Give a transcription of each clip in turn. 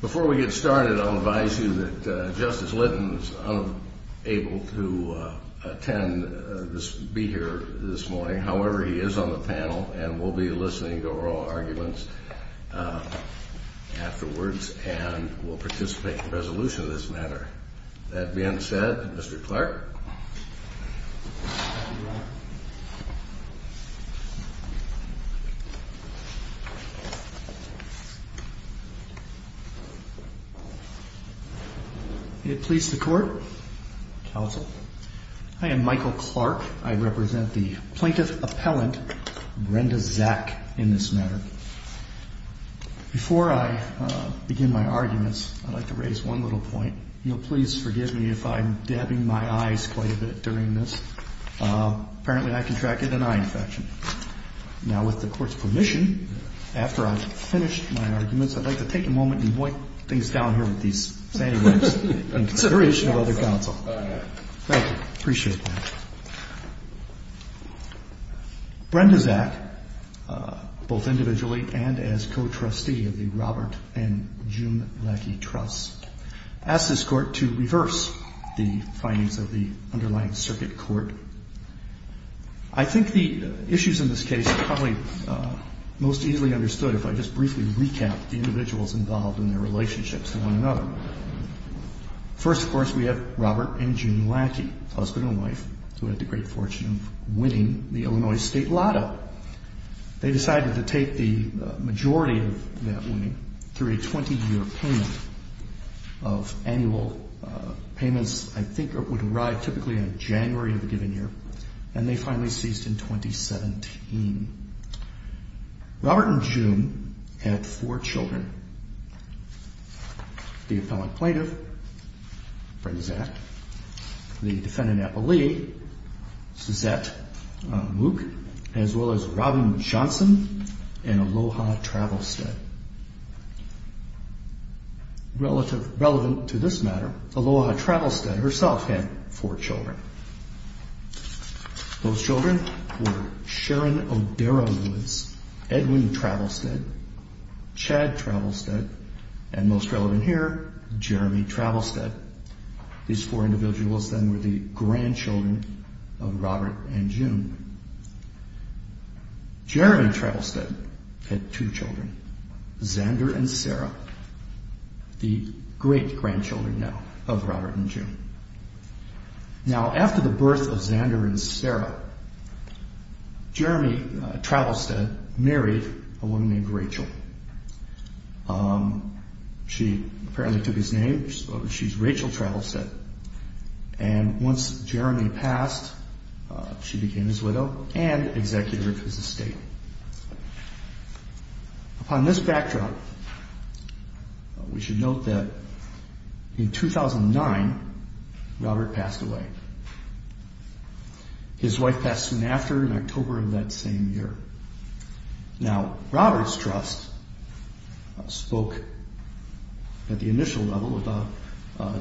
before we get started, I'll advise you that Justice Lytton is unable to attend this, be here this morning. However, he is on the panel and will be listening to oral arguments afterwards and will participate in the resolution of this matter. That being said, Mr. Clark. It please the court. I am Michael Clark. I represent the plaintiff appellant, Brenda Zack in this matter. Before I begin my arguments, I'd like to raise one little point. You know, please forgive me if I'm dabbing my eyes quite a bit during this. Uh, apparently I contracted an eye infection. Now with the court's permission, after I've finished my arguments, I'd like to take a moment and wipe things down here with these consideration of other counsel. Thank you. Appreciate it. Brenda Zack, uh, both individually and as co-trustee of the Robert and Jim Lackey trust. Ask this court to reverse the findings of the underlying circuit court. I think the issues in this case probably, uh, most easily understood if I just briefly recap the individuals involved in their relationships and one another. First, of course, we have Robert and Jim Lackey, husband and wife who had the great fortune of winning the Illinois state lotto. They decided to take the majority of that money through a 20 year payment. Of annual, uh, payments. I think it would arrive typically in January of a given year. And they finally ceased in 2017. Robert and Jim had four children, the appellant plaintiff, Brenda Zack, the defendant, Apple Lee, Suzette Mook, as well as Robin Johnson and Aloha Travelstead. Relative, relevant to this matter, Aloha Travelstead herself had four children. Those children were Sharon O'Dara Woods, Edwin Travelstead, Chad Travelstead, and most relevant here, Jeremy Travelstead. These four individuals then were the grandchildren of Robert and Jim. Jeremy Travelstead had two children. Xander and Sarah, the great grandchildren now of Robert and Jim. Now, after the birth of Xander and Sarah, Jeremy Travelstead married a woman named Rachel. She apparently took his name. She's Rachel Travelstead. And once Jeremy passed, she became his widow and executor of his estate. Upon this backdrop, we should note that in 2009, Robert passed away. His wife passed soon after in October of that same year. Now, Robert's trust spoke at the initial level about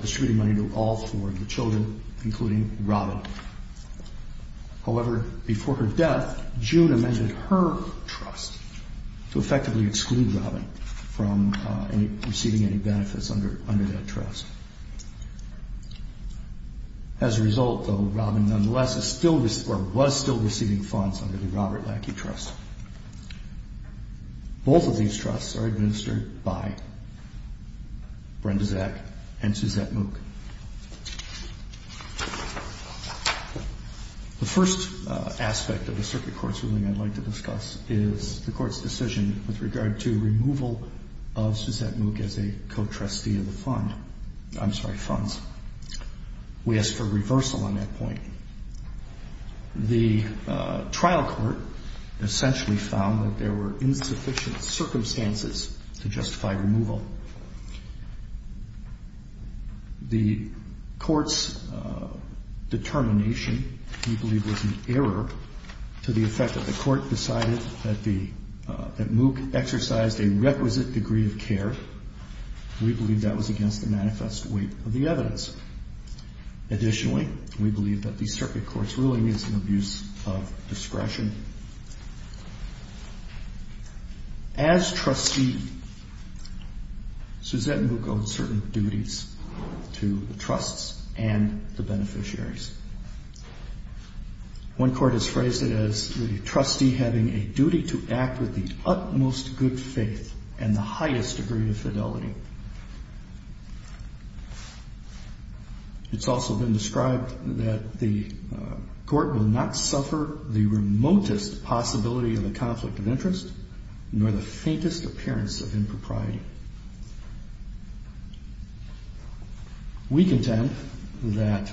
distributing money to all four of the children, including Robin. However, before her death, June amended her trust to effectively exclude Robin from receiving any benefits under that trust. As a result, though, Robin nonetheless was still receiving funds under the Robert Lackey Trust. Both of these trusts are administered by Brenda Zack and Suzette Mook. The first aspect of the circuit court's ruling I'd like to discuss is the court's decision with regard to removal of Suzette Mook as a co-trustee of the fund. I'm sorry, funds. We asked for reversal on that point. The trial court essentially found that there were insufficient circumstances to justify removal. The court's determination, we believe, was an error to the effect that the court decided that Mook exercised a requisite degree of care. We believe that was against the manifest weight of the evidence. Additionally, we believe that the circuit court's ruling is an abuse of discretion. As trustee, Suzette Mook owed certain duties to the trusts and the beneficiaries. One court has phrased it as the trustee having a duty to act with the utmost good faith and the highest degree of fidelity. It's also been described that the court will not suffer the remotest possibility of a conflict of interest, nor the faintest appearance of impropriety. We contend that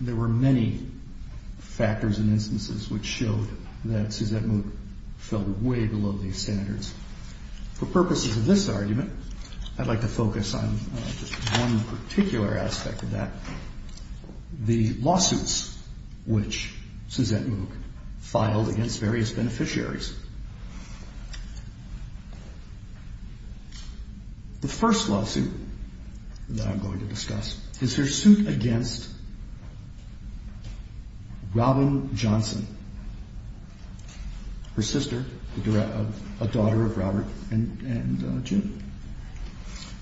there were many factors and instances which showed that Suzette Mook fell way below these standards. For purposes of this argument, I'd like to focus on just one particular aspect of that. The lawsuits which Suzette Mook filed against various beneficiaries. The first lawsuit that I'm going to discuss is her suit against Robin Johnson, her sister, a daughter of Robert and June.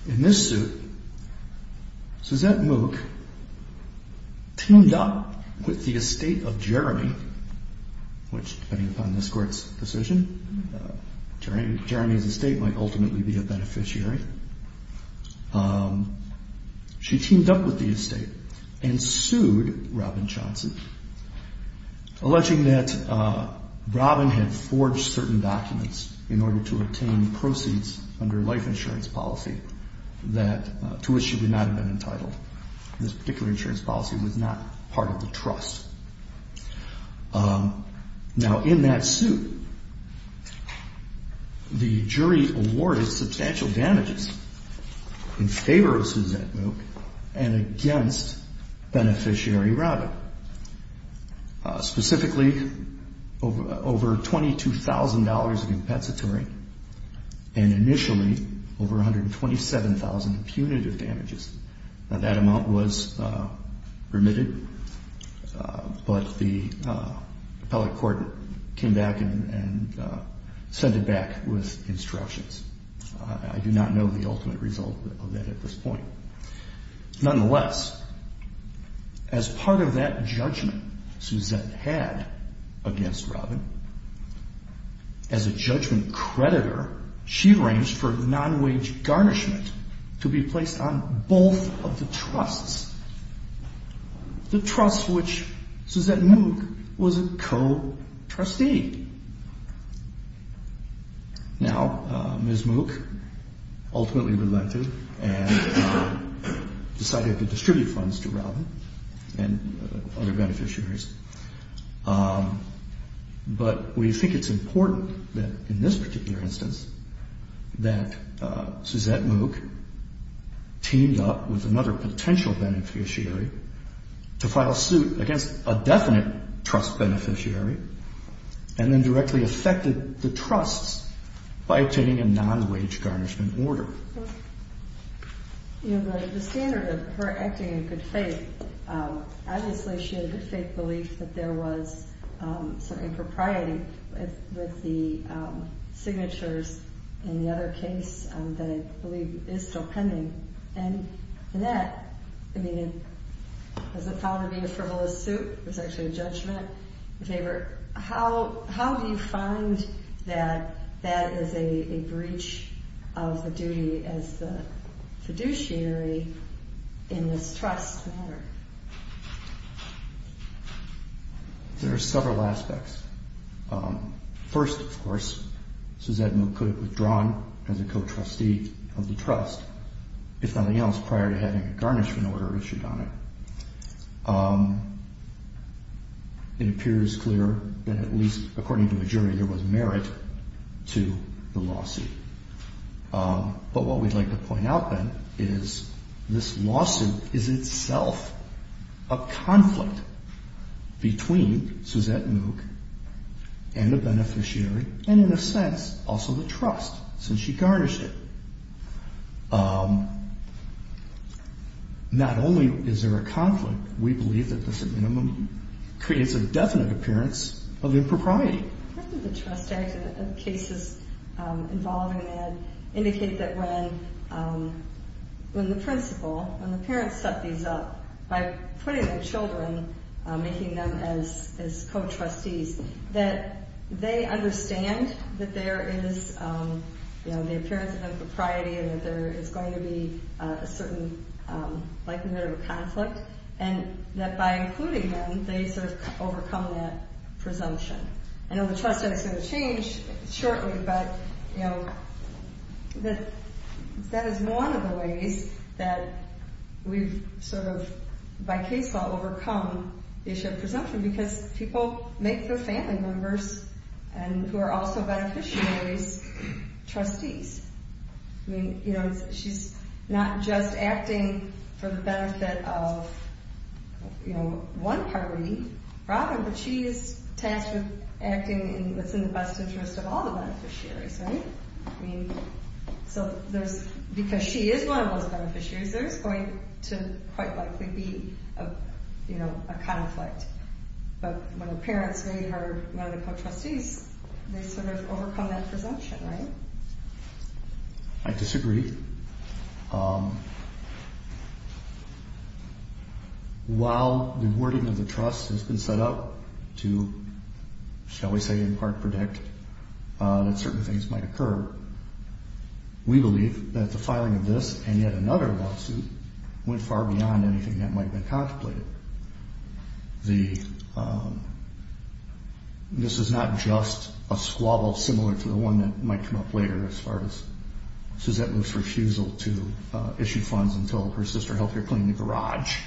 In this suit, Suzette Mook teamed up with the estate of Jeremy, which depending upon this court's decision, Jeremy's estate might ultimately be a beneficiary. She teamed up with the estate and sued Robin Johnson, alleging that Robin had forged certain documents in order to obtain proceeds under life insurance policy to which she would not have been entitled. This particular insurance policy was not part of the trust. Now in that suit, the jury awarded substantial damages in favor of Suzette Mook and against beneficiary Robin. Specifically, over $22,000 of compensatory and initially over 127,000 punitive damages. That amount was remitted, but the appellate court came back and sent it back with instructions. I do not know the ultimate result of that at this point. Nonetheless, as part of that judgment Suzette had against Robin, as a judgment creditor, she arranged for non-wage garnishment to be placed on both of the trusts. The trust which Suzette Mook was a co-trustee. Now, Ms. Mook ultimately relented and decided to distribute funds to Robin and other beneficiaries. But we think it's important that in this particular instance, that Suzette Mook teamed up with another potential beneficiary to file suit against a definite trust beneficiary and then directly affected the trusts by obtaining a non-wage garnishment order. The standard of her acting in good faith. Obviously she had a good faith belief that there was some impropriety with the signatures in the other case that I believe is still pending. And in that, I mean, was it found to be a frivolous suit? Or how do you find that that is a breach of the duty as the fiduciary in this trust matter? There are several aspects. First, of course, Suzette Mook could have withdrawn as a co-trustee of the trust, if nothing else, prior to having a garnishment order issued on it. It appears clear that at least according to the jury, there was merit to the lawsuit. But what we'd like to point out then is this lawsuit is itself a conflict between Suzette Mook and the beneficiary and in a sense also the trust since she garnished it. Not only is there a conflict, we believe that the subminimum creates a definite appearance of impropriety. The trust act and the cases involving that indicate that when the principal, when the parents set these up by putting the children, making them as co-trustees, that they understand that there is the appearance of impropriety and that there is going to be a certain likelihood of a conflict. And that by including them, they sort of overcome that presumption. I know the trust act is going to change shortly, but that is one of the ways that we've sort of, by case law, overcome the issue of presumption. Because people make their family members and who are also beneficiaries, trustees. I mean, you know, she's not just acting for the benefit of, you know, one party, Robin, but she is tasked with acting in what's in the best interest of all the beneficiaries, right? I mean, so there's, because she is one of those beneficiaries, there's going to quite likely be a, you know, a conflict. But when the parents made her one of the co-trustees, they sort of overcome that presumption, right? I disagree. While the wording of the trust has been set up to, shall we say, in part predict that certain things might occur, we believe that the filing of this and yet another lawsuit went far beyond anything that might have been contemplated. The, this is not just a squabble similar to the one that might come up later as far as Suzette Luce's refusal to issue funds until her sister helped her clean the garage.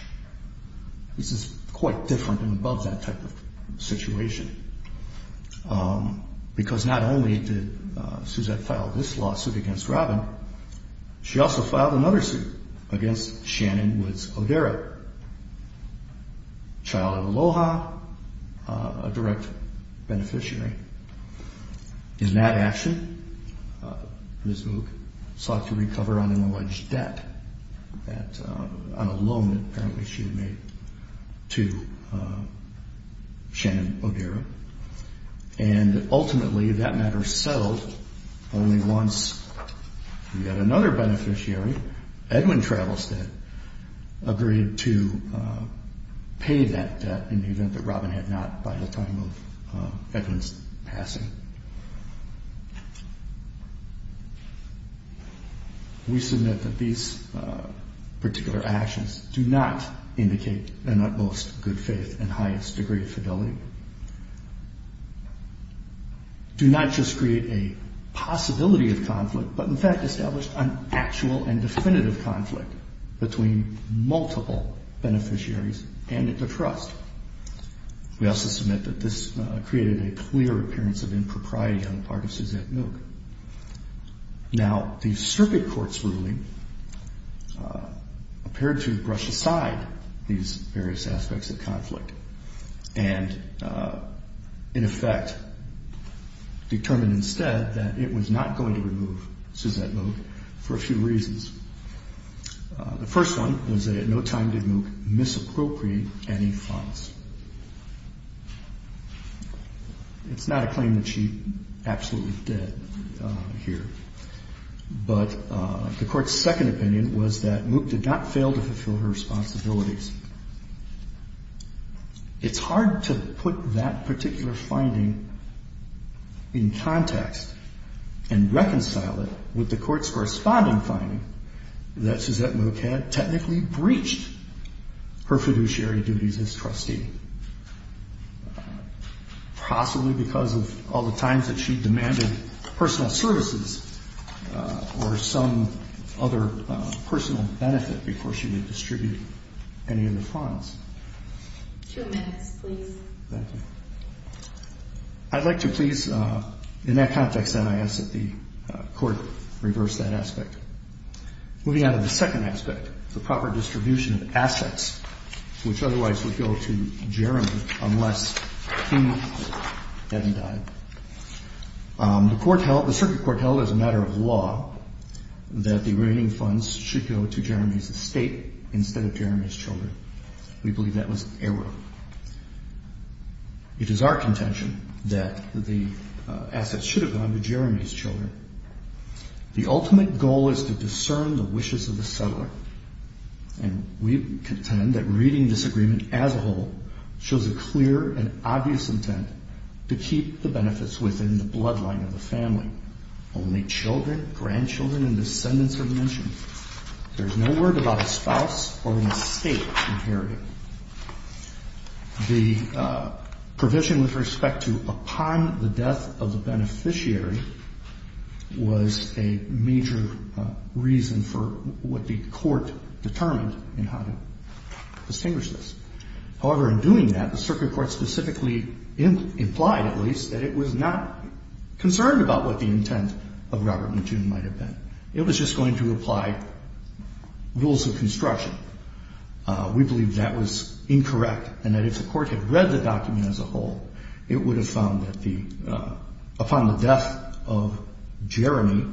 This is quite different and above that type of situation. Because not only did Suzette file this lawsuit against Robin, she also filed another suit against Shannon Woods-Odera. Child of Aloha, a direct beneficiary. In that action, Ms. Moog sought to recover on an alleged debt, on a loan that apparently she had made to Shannon Odera. And ultimately that matter settled only once we had another beneficiary, Edwin Travelstead, agreed to pay that debt in the event that Robin had not by the time of Edwin's passing. We submit that these particular actions do not indicate an utmost good faith and highest degree of fidelity. Do not just create a possibility of conflict, but in fact establish an actual and definitive conflict. Between multiple beneficiaries and at the trust. We also submit that this created a clear appearance of impropriety on the part of Suzette Moog. Now the circuit court's ruling appeared to brush aside these various aspects of conflict. And in effect determined instead that it was not going to remove Suzette Moog for a few reasons. The first one was that at no time did Moog misappropriate any funds. It's not a claim that she absolutely did here. But the court's second opinion was that Moog did not fail to fulfill her responsibilities. It's hard to put that particular finding in context and reconcile it with the court's corresponding finding that Suzette Moog had technically breached her fiduciary duties as trustee. Possibly because of all the times that she demanded personal services or some other personal benefit before she would distribute any of the funds. I'd like to please, in that context then, I ask that the court reverse that aspect. Moving on to the second aspect, the proper distribution of assets, which otherwise would go to Jeremy unless he hadn't died. The circuit court held as a matter of law that the remaining funds should go to Jeremy's estate instead of Jeremy's children. We believe that was error. It is our contention that the assets should have gone to Jeremy's children. The ultimate goal is to discern the wishes of the settler and we contend that reading this agreement as a whole shows a clear and obvious intent to keep the benefits within the bloodline of the family. Only children, grandchildren and descendants are mentioned. There's no word about a spouse or an estate imperative. The provision with respect to upon the death of the beneficiary was a major reason for what the court determined in how to distinguish this. However, in doing that, the circuit court specifically implied, at least, that it was not concerned about what the intent of Robert McJune might have been. It was just going to apply rules of construction. We believe that was incorrect and that if the court had read the document as a whole, it would have found that upon the death of Jeremy,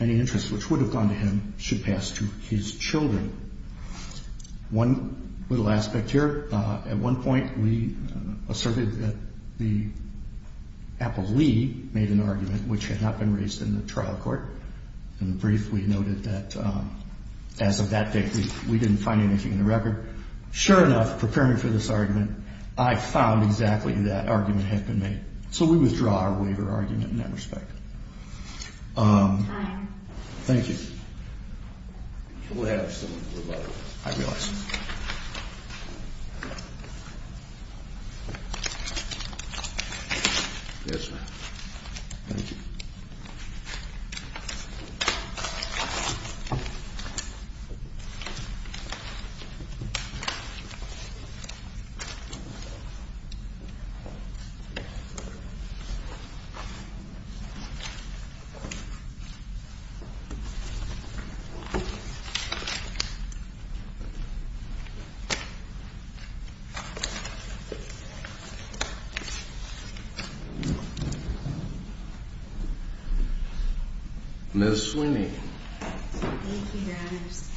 any interest which would have gone to him should pass to his children. One little aspect here, at one point we asserted that the appellee made an argument which had not been raised in the trial court. In the brief, we noted that as of that date, we didn't find anything in the record. Sure enough, preparing for this argument, I found exactly that argument had been made. So we withdraw our waiver argument in that respect. Thank you. Thank you. Ms. Swinney. Thank you, Your Honors.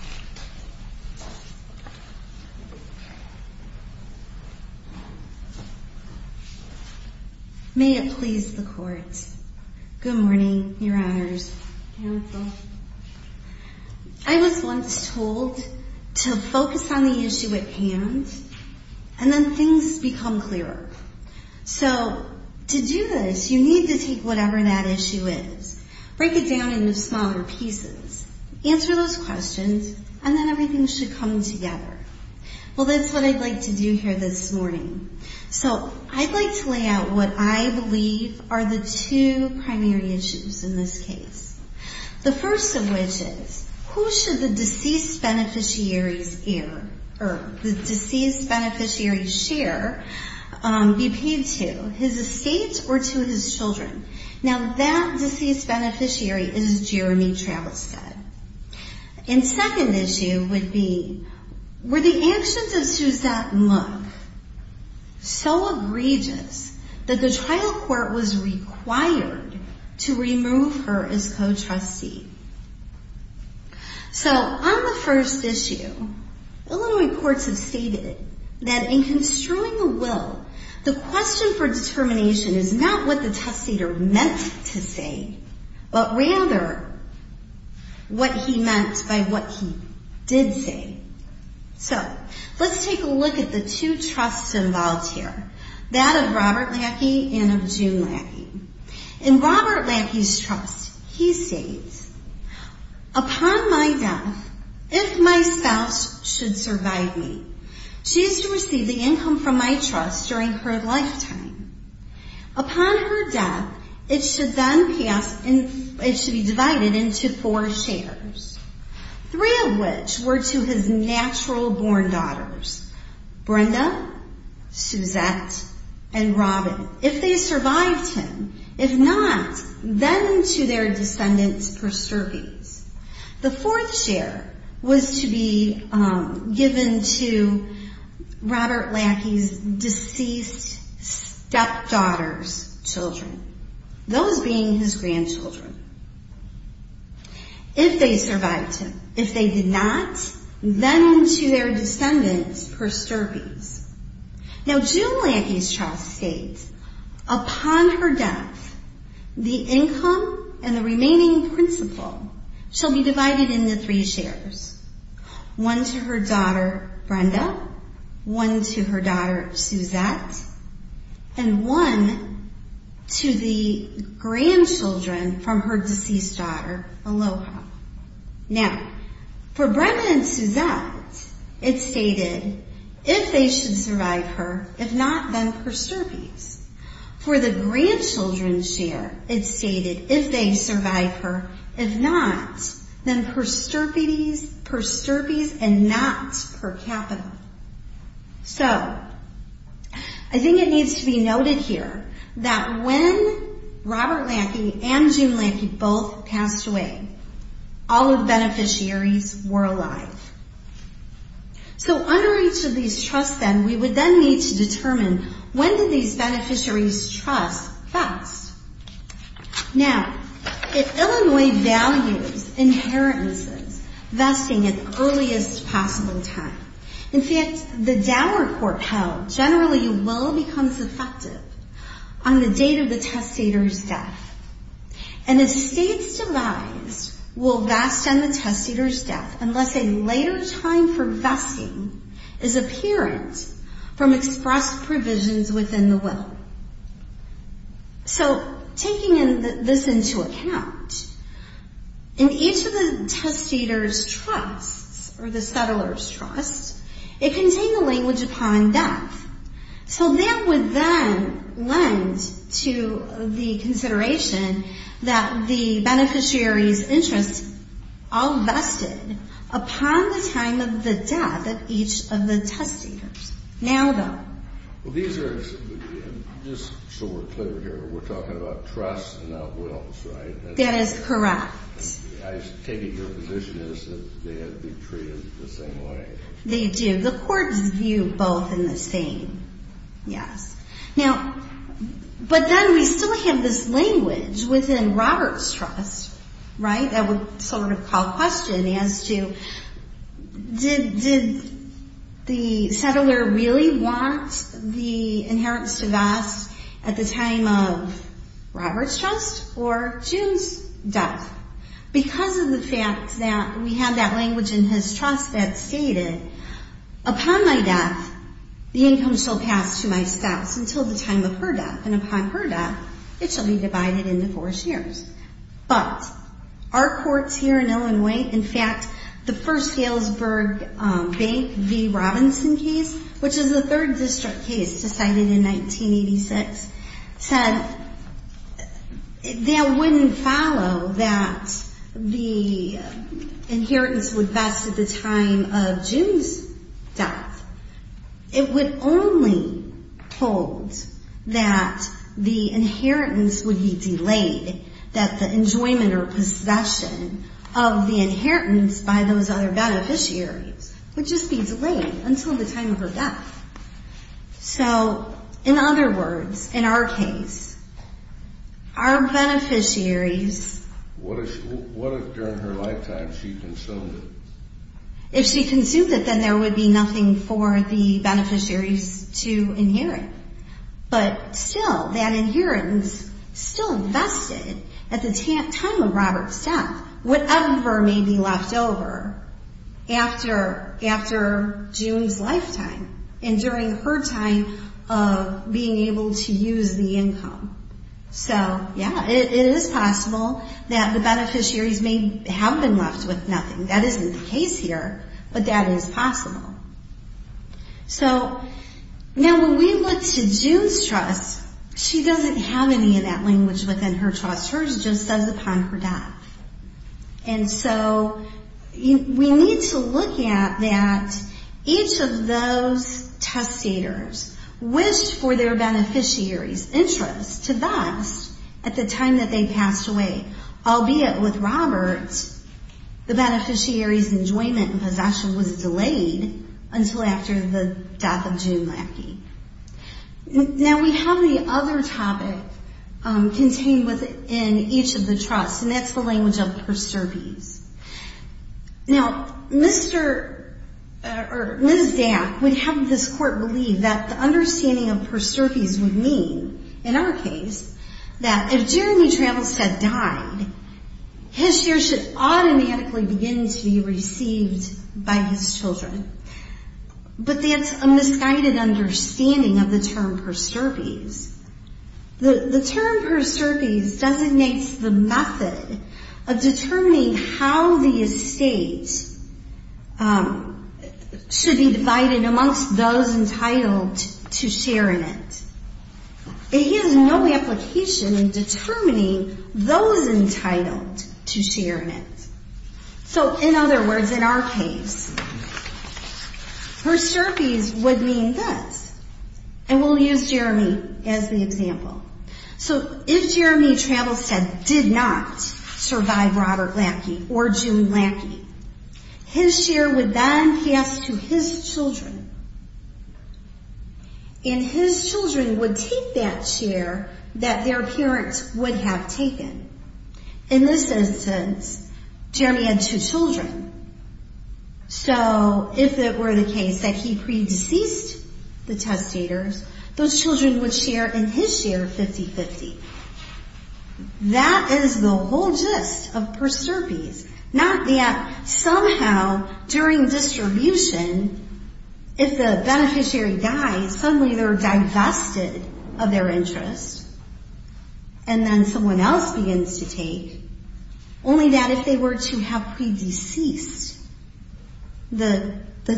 May it please the court. Good morning, Your Honors. I was once told to focus on the issue at hand and then things become clearer. So to do this, you need to take whatever that issue is, break it down into smaller pieces, answer those questions, and then everything should come together. Well, that's what I'd like to do here this morning. So I'd like to lay out what I believe are the two primary issues in this case. The first of which is, who should the deceased beneficiary's heir or the deceased beneficiary's share be paid to, his estate or to his children? Now, that deceased beneficiary is Jeremy Travistad. And second issue would be, were the actions of Suzette Love so egregious that the trial court was required to remove her as co-trustee? So on the first issue, Illinois courts have stated that in construing a will, the question for determination is not what the testator meant to say, but rather what he meant by what he did say. So let's take a look at the two trusts involved here, that of Robert Lackey and of June Lackey. In Robert Lackey's trust, he states, upon my death, if my spouse should survive me, she is to receive the income from my trust during her lifetime. Upon her death, it should be divided into four shares, three of which were to his natural-born daughters, Brenda, Suzette, and Robin. If they survived him, if not, then to their descendants per service. The fourth share was to be given to Robert Lackey's deceased stepdaughter, children, those being his grandchildren. If they survived him, if they did not, then to their descendants per service. Now June Lackey's trust states, upon her death, the income and the remaining principal shall be divided into three shares, one to her daughter, Brenda, one to her daughter, Suzette, and one to the grandchildren from her deceased daughter, Aloha. Now, for Brenda and Suzette, it stated, if they should survive her, if not, then per service. For the grandchildren's share, it stated, if they survive her, if not, then per service and not per capital. So I think it needs to be noted here that when Robert Lackey and June Lackey both passed away, all of the beneficiaries were alive. So under each of these trusts, then, we would then need to determine, when did these beneficiaries' trust pass? Now, if Illinois values inheritances vesting at the earliest possible time, in fact, the downward corp held generally will become effective on the date of the testator's death. And the state's demise will vest on the testator's death unless a later time for vesting is apparent from expressed provisions within the will. So taking this into account, in each of the testator's trusts, or the settler's trust, it contained the language upon death. So that would then lend to the consideration that the beneficiary's interest all vested upon the time of the death of each of the testators. Now, though. Well, these are, just so we're clear here, we're talking about trusts and not wills, right? That is correct. I'm taking your position as if they had to be treated the same way. They do. The courts view both in the same, yes. Now, but then we still have this language within Robert's trust, right, that would sort of call question as to, did the settler really want the inheritance to vest at the time of Robert's trust or June's death? Because of the fact that we have that language in his trust that stated, upon my death, the income shall pass to my spouse until the time of her death. And upon her death, it shall be divided into four shares. But our courts here in Illinois, in fact, the first Galesburg Bank v. Robinson case, which is the third district case decided in 1986, said that wouldn't follow that the inheritance would vest at the time of June's death. It would only hold that the inheritance would be delayed, that the enjoyment or possession of the inheritance by those other beneficiaries would just be delayed until the time of her death. So in other words, in our case, our beneficiaries. What if during her lifetime she consumed it? If she consumed it, then there would be nothing for the beneficiaries to inherit. But still, that inheritance still vested at the time of Robert's death, whatever may be left over after June's lifetime and during her time of being able to use the income. So yeah, it is possible that the beneficiaries may have been left with nothing. That isn't the case here, but that is possible. So now when we look to June's trust, she doesn't have any of that language within her trust. Hers just says upon her death. And so we need to look at that each of those testators wished for their beneficiaries' interest to vest at the time that they passed away. Albeit with Robert, the beneficiaries' enjoyment and possession was delayed until after the death of June Lackey. Now we have the other topic contained within each of the trusts, and that's the language of perservice. Now, Ms. Dack would have this court believe that the understanding of perservice would mean, in our case, that if Jeremy Trammelstad died, his share should automatically begin to be received by his children. But that's a misguided understanding of the term perservice. The term perservice designates the method of determining how the estate should be divided amongst those entitled to share in it. It has no application in determining those entitled to share in it. So, in other words, in our case, perservice would mean this, and we'll use Jeremy as the example. So if Jeremy Trammelstad did not survive Robert Lackey or June Lackey, his share would then pass to his children, and his children would take that share that their parents would have taken. In this instance, Jeremy had two children. So if it were the case that he pre-deceased the testators, those children would share in his share 50-50. That is the whole gist of perservice. Not that somehow during distribution, if the beneficiary dies, suddenly they're divested of their interest, and then someone else begins to take, only that if they were to have pre-deceased the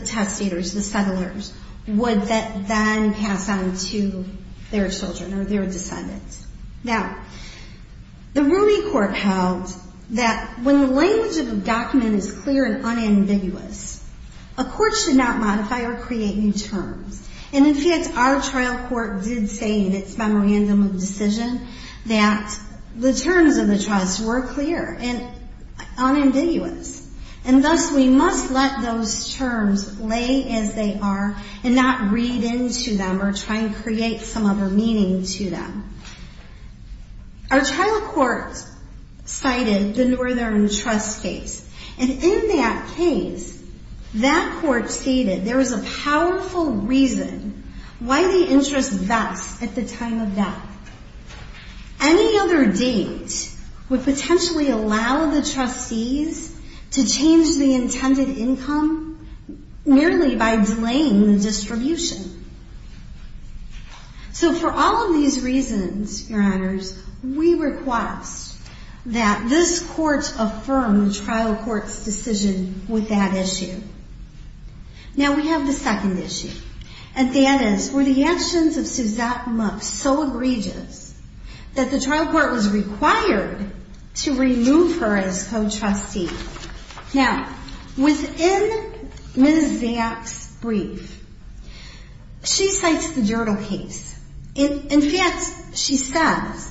testators, the settlers, would that then pass on to their children or their descendants. Now, the Rooney Court held that when the language of a document is clear and unambiguous, and in fact, our trial court did say in its memorandum of decision that the terms of the trust were clear and unambiguous, and thus we must let those terms lay as they are and not read into them or try and create some other meaning to them. Our trial court cited the Northern Trust case, and in that case, that court stated there was a powerful reason why the interest vests at the time of death. Any other date would potentially allow the trustees to change the intended income merely by delaying the distribution. we request that this court affirm the trial court's decision with that issue. Now, we have the second issue, and that is, were the actions of Suzette Mook so egregious that the trial court was required to remove her as co-trustee? Now, within Ms. Zapp's brief, she cites the Dyrdal case. In fact, she says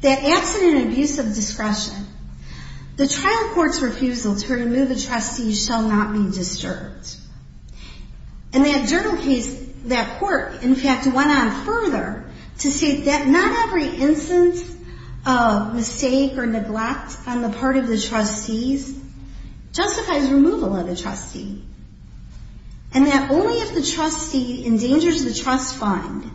that absent an abuse of discretion, the trial court's refusal to remove a trustee shall not be disturbed. In that Dyrdal case, that court, in fact, went on further to state that not every instance of mistake or neglect on the part of the trustees justifies removal of the trustee, and that only if the trustee endangers the trust fund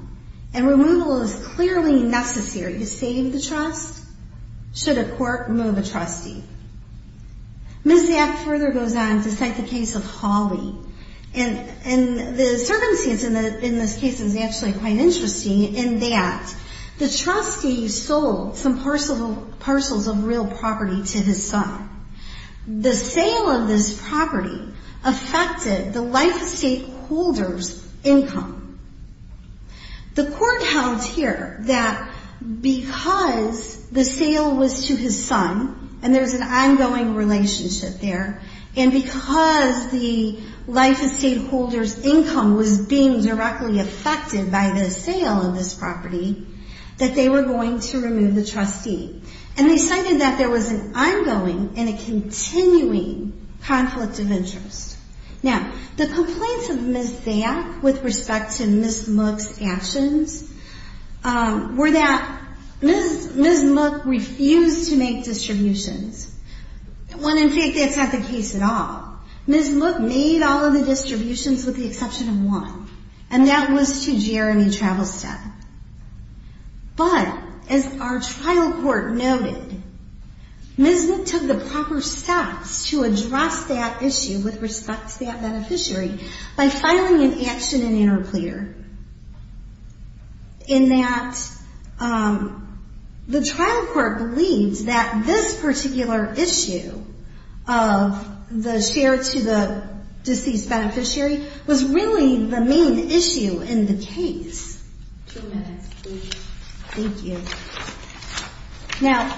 and removal is clearly necessary to save the trust, should a court remove a trustee. Ms. Zapp further goes on to cite the case of Hawley, and the circumstance in this case is actually quite interesting in that the trustee sold some parcels of real property to his son. The sale of this property affected the life estate holder's income. The court held here that because the sale was to his son, and there's an ongoing relationship there, and because the life estate holder's income was being directly affected by the sale of this property, that they were going to remove the trustee. And they cited that there was an ongoing and a continuing conflict of interest. Now, the complaints of Ms. Zapp with respect to Ms. Mook's actions were that Ms. Mook refused to make distributions, when in fact that's not the case at all. Ms. Mook made all of the distributions with the exception of one, and that was to Jeremy Travelstad. But, as our trial court noted, Ms. Mook took the proper steps to address that issue with respect to that beneficiary by filing an action in interplea, in that the trial court believes that this particular issue of the share to the deceased beneficiary was really the main issue in the case. Two minutes, please. Thank you. Now,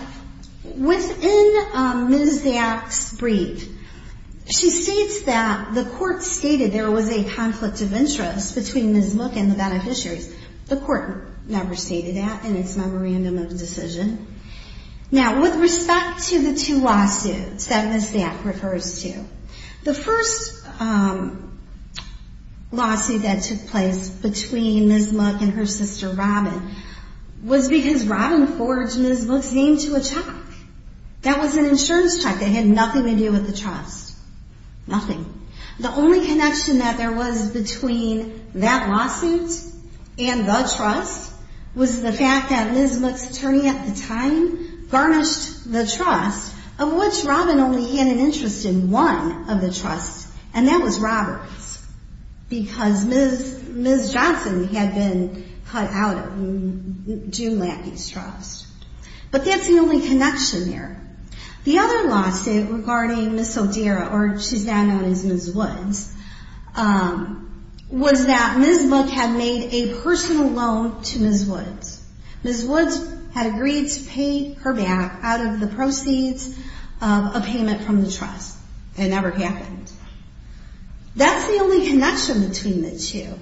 within Ms. Zapp's brief, she states that the court stated there was a conflict of interest between Ms. Mook and the beneficiaries. The court never stated that in its memorandum of decision. Now, with respect to the two lawsuits that Ms. Zapp refers to, the first lawsuit that took place between Ms. Mook and her sister, Robyn, was because Robyn forged Ms. Mook's name to a check. That was an insurance check that had nothing to do with the trust. Nothing. The only connection that there was between that lawsuit and the trust was the fact that Ms. Mook's attorney at the time garnished the trust, of which Robyn only had an interest in one of the trusts, and that was Robert's, because Ms. Johnson had been cut out of June Lappy's trust. But that's the only connection there. The other lawsuit regarding Ms. Odera, or she's now known as Ms. Woods, was that Ms. Mook had made a personal loan to Ms. Woods. Ms. Woods had agreed to pay her back out of the proceeds of a payment from the trust. It never happened. That's the only connection between the two.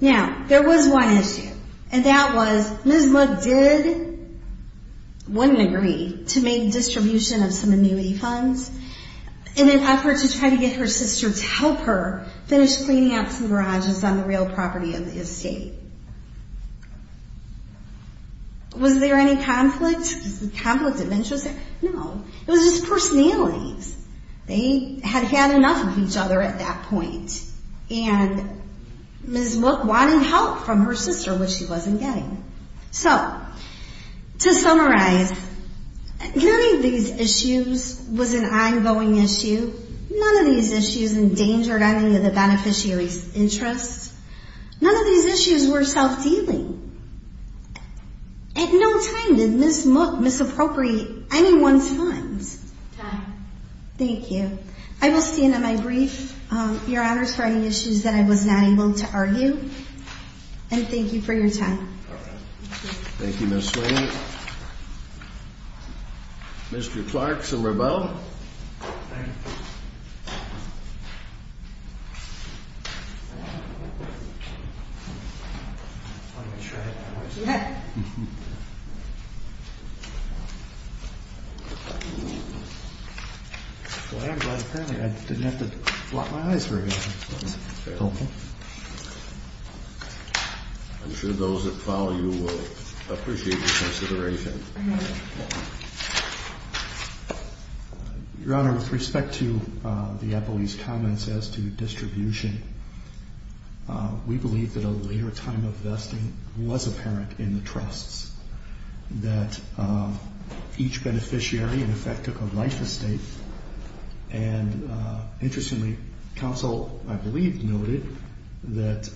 Now, there was one issue, and that was Ms. Mook did, wouldn't agree, to make a distribution of some annuity funds in an effort to try to get her sister to help her finish cleaning up some garages on the real property of the estate. Was there any conflict of interest? No. It was just personalities. They had had enough of each other at that point, and Ms. Mook wanted help from her sister, which she wasn't getting. So, to summarize, none of these issues was an ongoing issue. None of these issues endangered any of the beneficiaries' interests. None of these issues were self-dealing. At no time did Ms. Mook misappropriate anyone's funds. Time. Thank you. I will stand on my brief, Your Honors, for any issues that I was not able to argue, and thank you for your time. Thank you, Ms. Swain. Thank you. Mr. Clark to rebuttal. Thank you. I'm going to try it now, aren't you? Yeah. I didn't have to lock my eyes very often. Okay. I'm sure those that follow you will appreciate your consideration. I know. Your Honor, with respect to the appellee's comments as to distribution, we believe that a later time of vesting was apparent in the trusts, that each beneficiary, in effect, took a life estate, and interestingly, counsel, I believe, noted that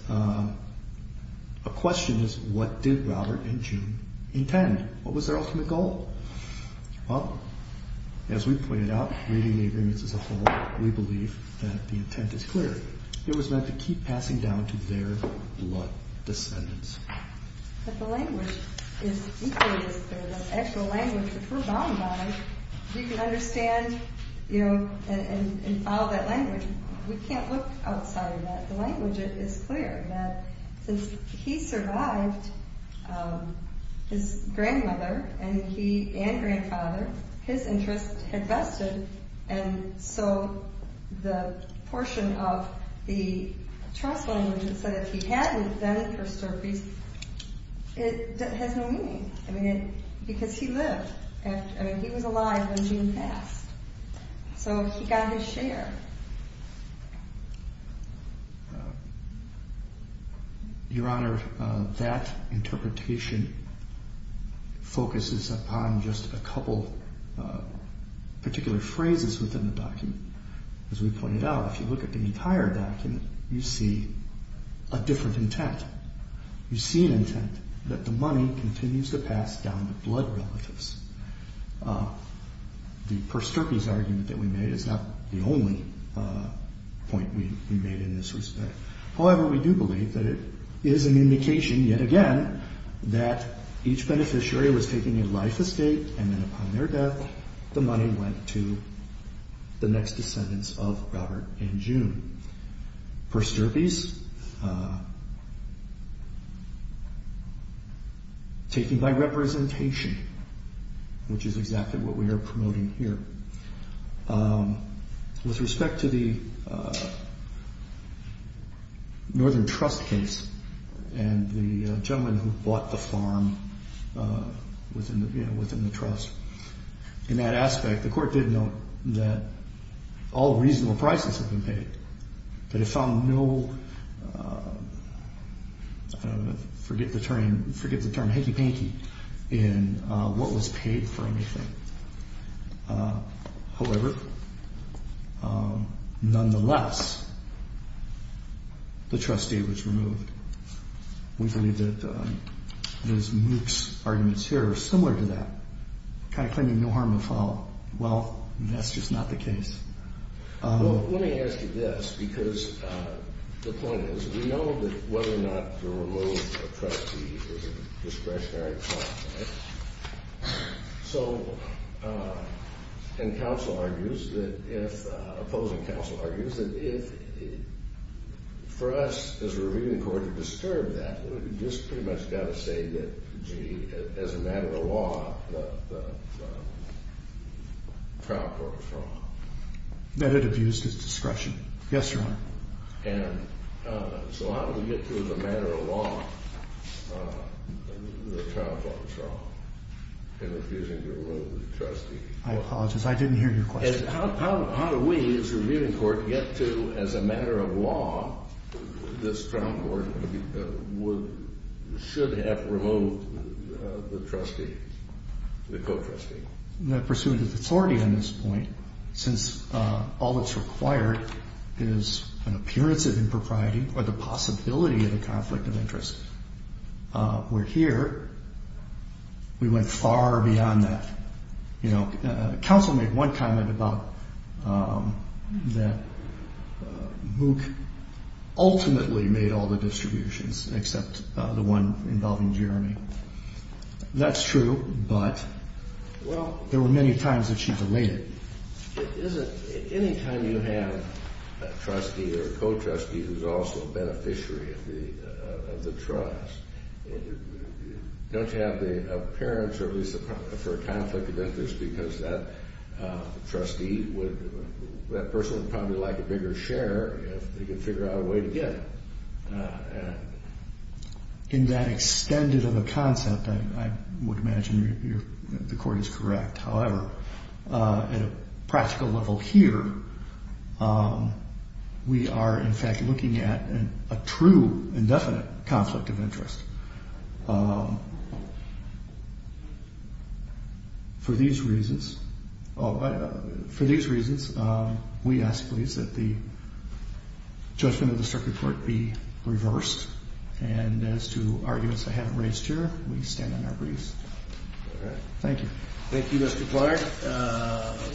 a question is what did Robert and June intend? What was their ultimate goal? Well, as we pointed out, reading the agreements as a whole, we believe that the intent is clear. It was meant to keep passing down to their blood descendants. But the language is equally as clear. The actual language, if we're bound by it, we can understand and follow that language. We can't look outside of that. The language is clear that since he survived his grandmother and grandfather, his interest had vested, and so the portion of the trust language that said if he hadn't, it has no meaning because he lived. I mean, he was alive when June passed, so he got his share. Your Honor, that interpretation focuses upon just a couple particular phrases within the document. As we pointed out, if you look at the entire document, you see a different intent. You see an intent that the money continues to pass down to blood relatives. The Persterpe's argument that we made is not the only point we made in this respect. However, we do believe that it is an indication, yet again, that each beneficiary was taking a life estate, and then upon their death, the money went to the next descendants of Robert and June. Persterpe's, taken by representation, which is exactly what we are promoting here. With respect to the Northern Trust case and the gentleman who bought the farm within the trust, in that aspect, the court did note that all reasonable prices had been paid, that it found no, forget the term, forget the term, hanky-panky in what was paid for anything. However, nonetheless, the trustee was removed. We believe that Ms. Mook's arguments here are similar to that, kind of claiming no harm will fall. Well, that's just not the case. Let me ask you this, because the point is, we know that whether or not to remove a trustee is a discretionary call. So, and counsel argues that if, opposing counsel argues that if, for us as a reviewing court to disturb that, we've just pretty much got to say that, gee, as a matter of law, the trial court was wrong. That it abused its discretion. Yes, Your Honor. And so how do we get to, as a matter of law, the trial court was wrong in refusing to remove the trustee? I apologize, I didn't hear your question. How do we, as a reviewing court, get to, as a matter of law, this trial court should have removed the trustee, the co-trustee? Well, the pursuit of authority on this point, since all that's required is an appearance of impropriety or the possibility of a conflict of interest. Where here, we went far beyond that. You know, counsel made one comment about that Mook ultimately made all the distributions, except the one involving Jeremy. That's true, but there were many times that she delayed it. Anytime you have a trustee or a co-trustee who's also a beneficiary of the trust, don't you have the appearance, or at least for a conflict of interest, because that trustee would, that person would probably like a bigger share if they could figure out a way to get it. In that extended of a concept, I would imagine the court is correct. However, at a practical level here, we are in fact looking at a true indefinite conflict of interest. For these reasons, we ask, please, that the judgment of the circuit court be reversed. And as to arguments I haven't raised here, we stand on our briefs. All right. Thank you. Thank you, Mr. Clark.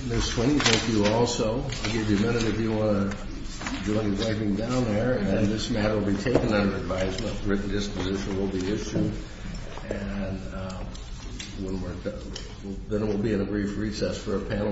Ms. Swinney, thank you also. I'll give you a minute if you want to join driving down there, and this matter will be taken under advisement. A written disposition will be issued, and when we're done. Then it will be in a brief recess for a panel.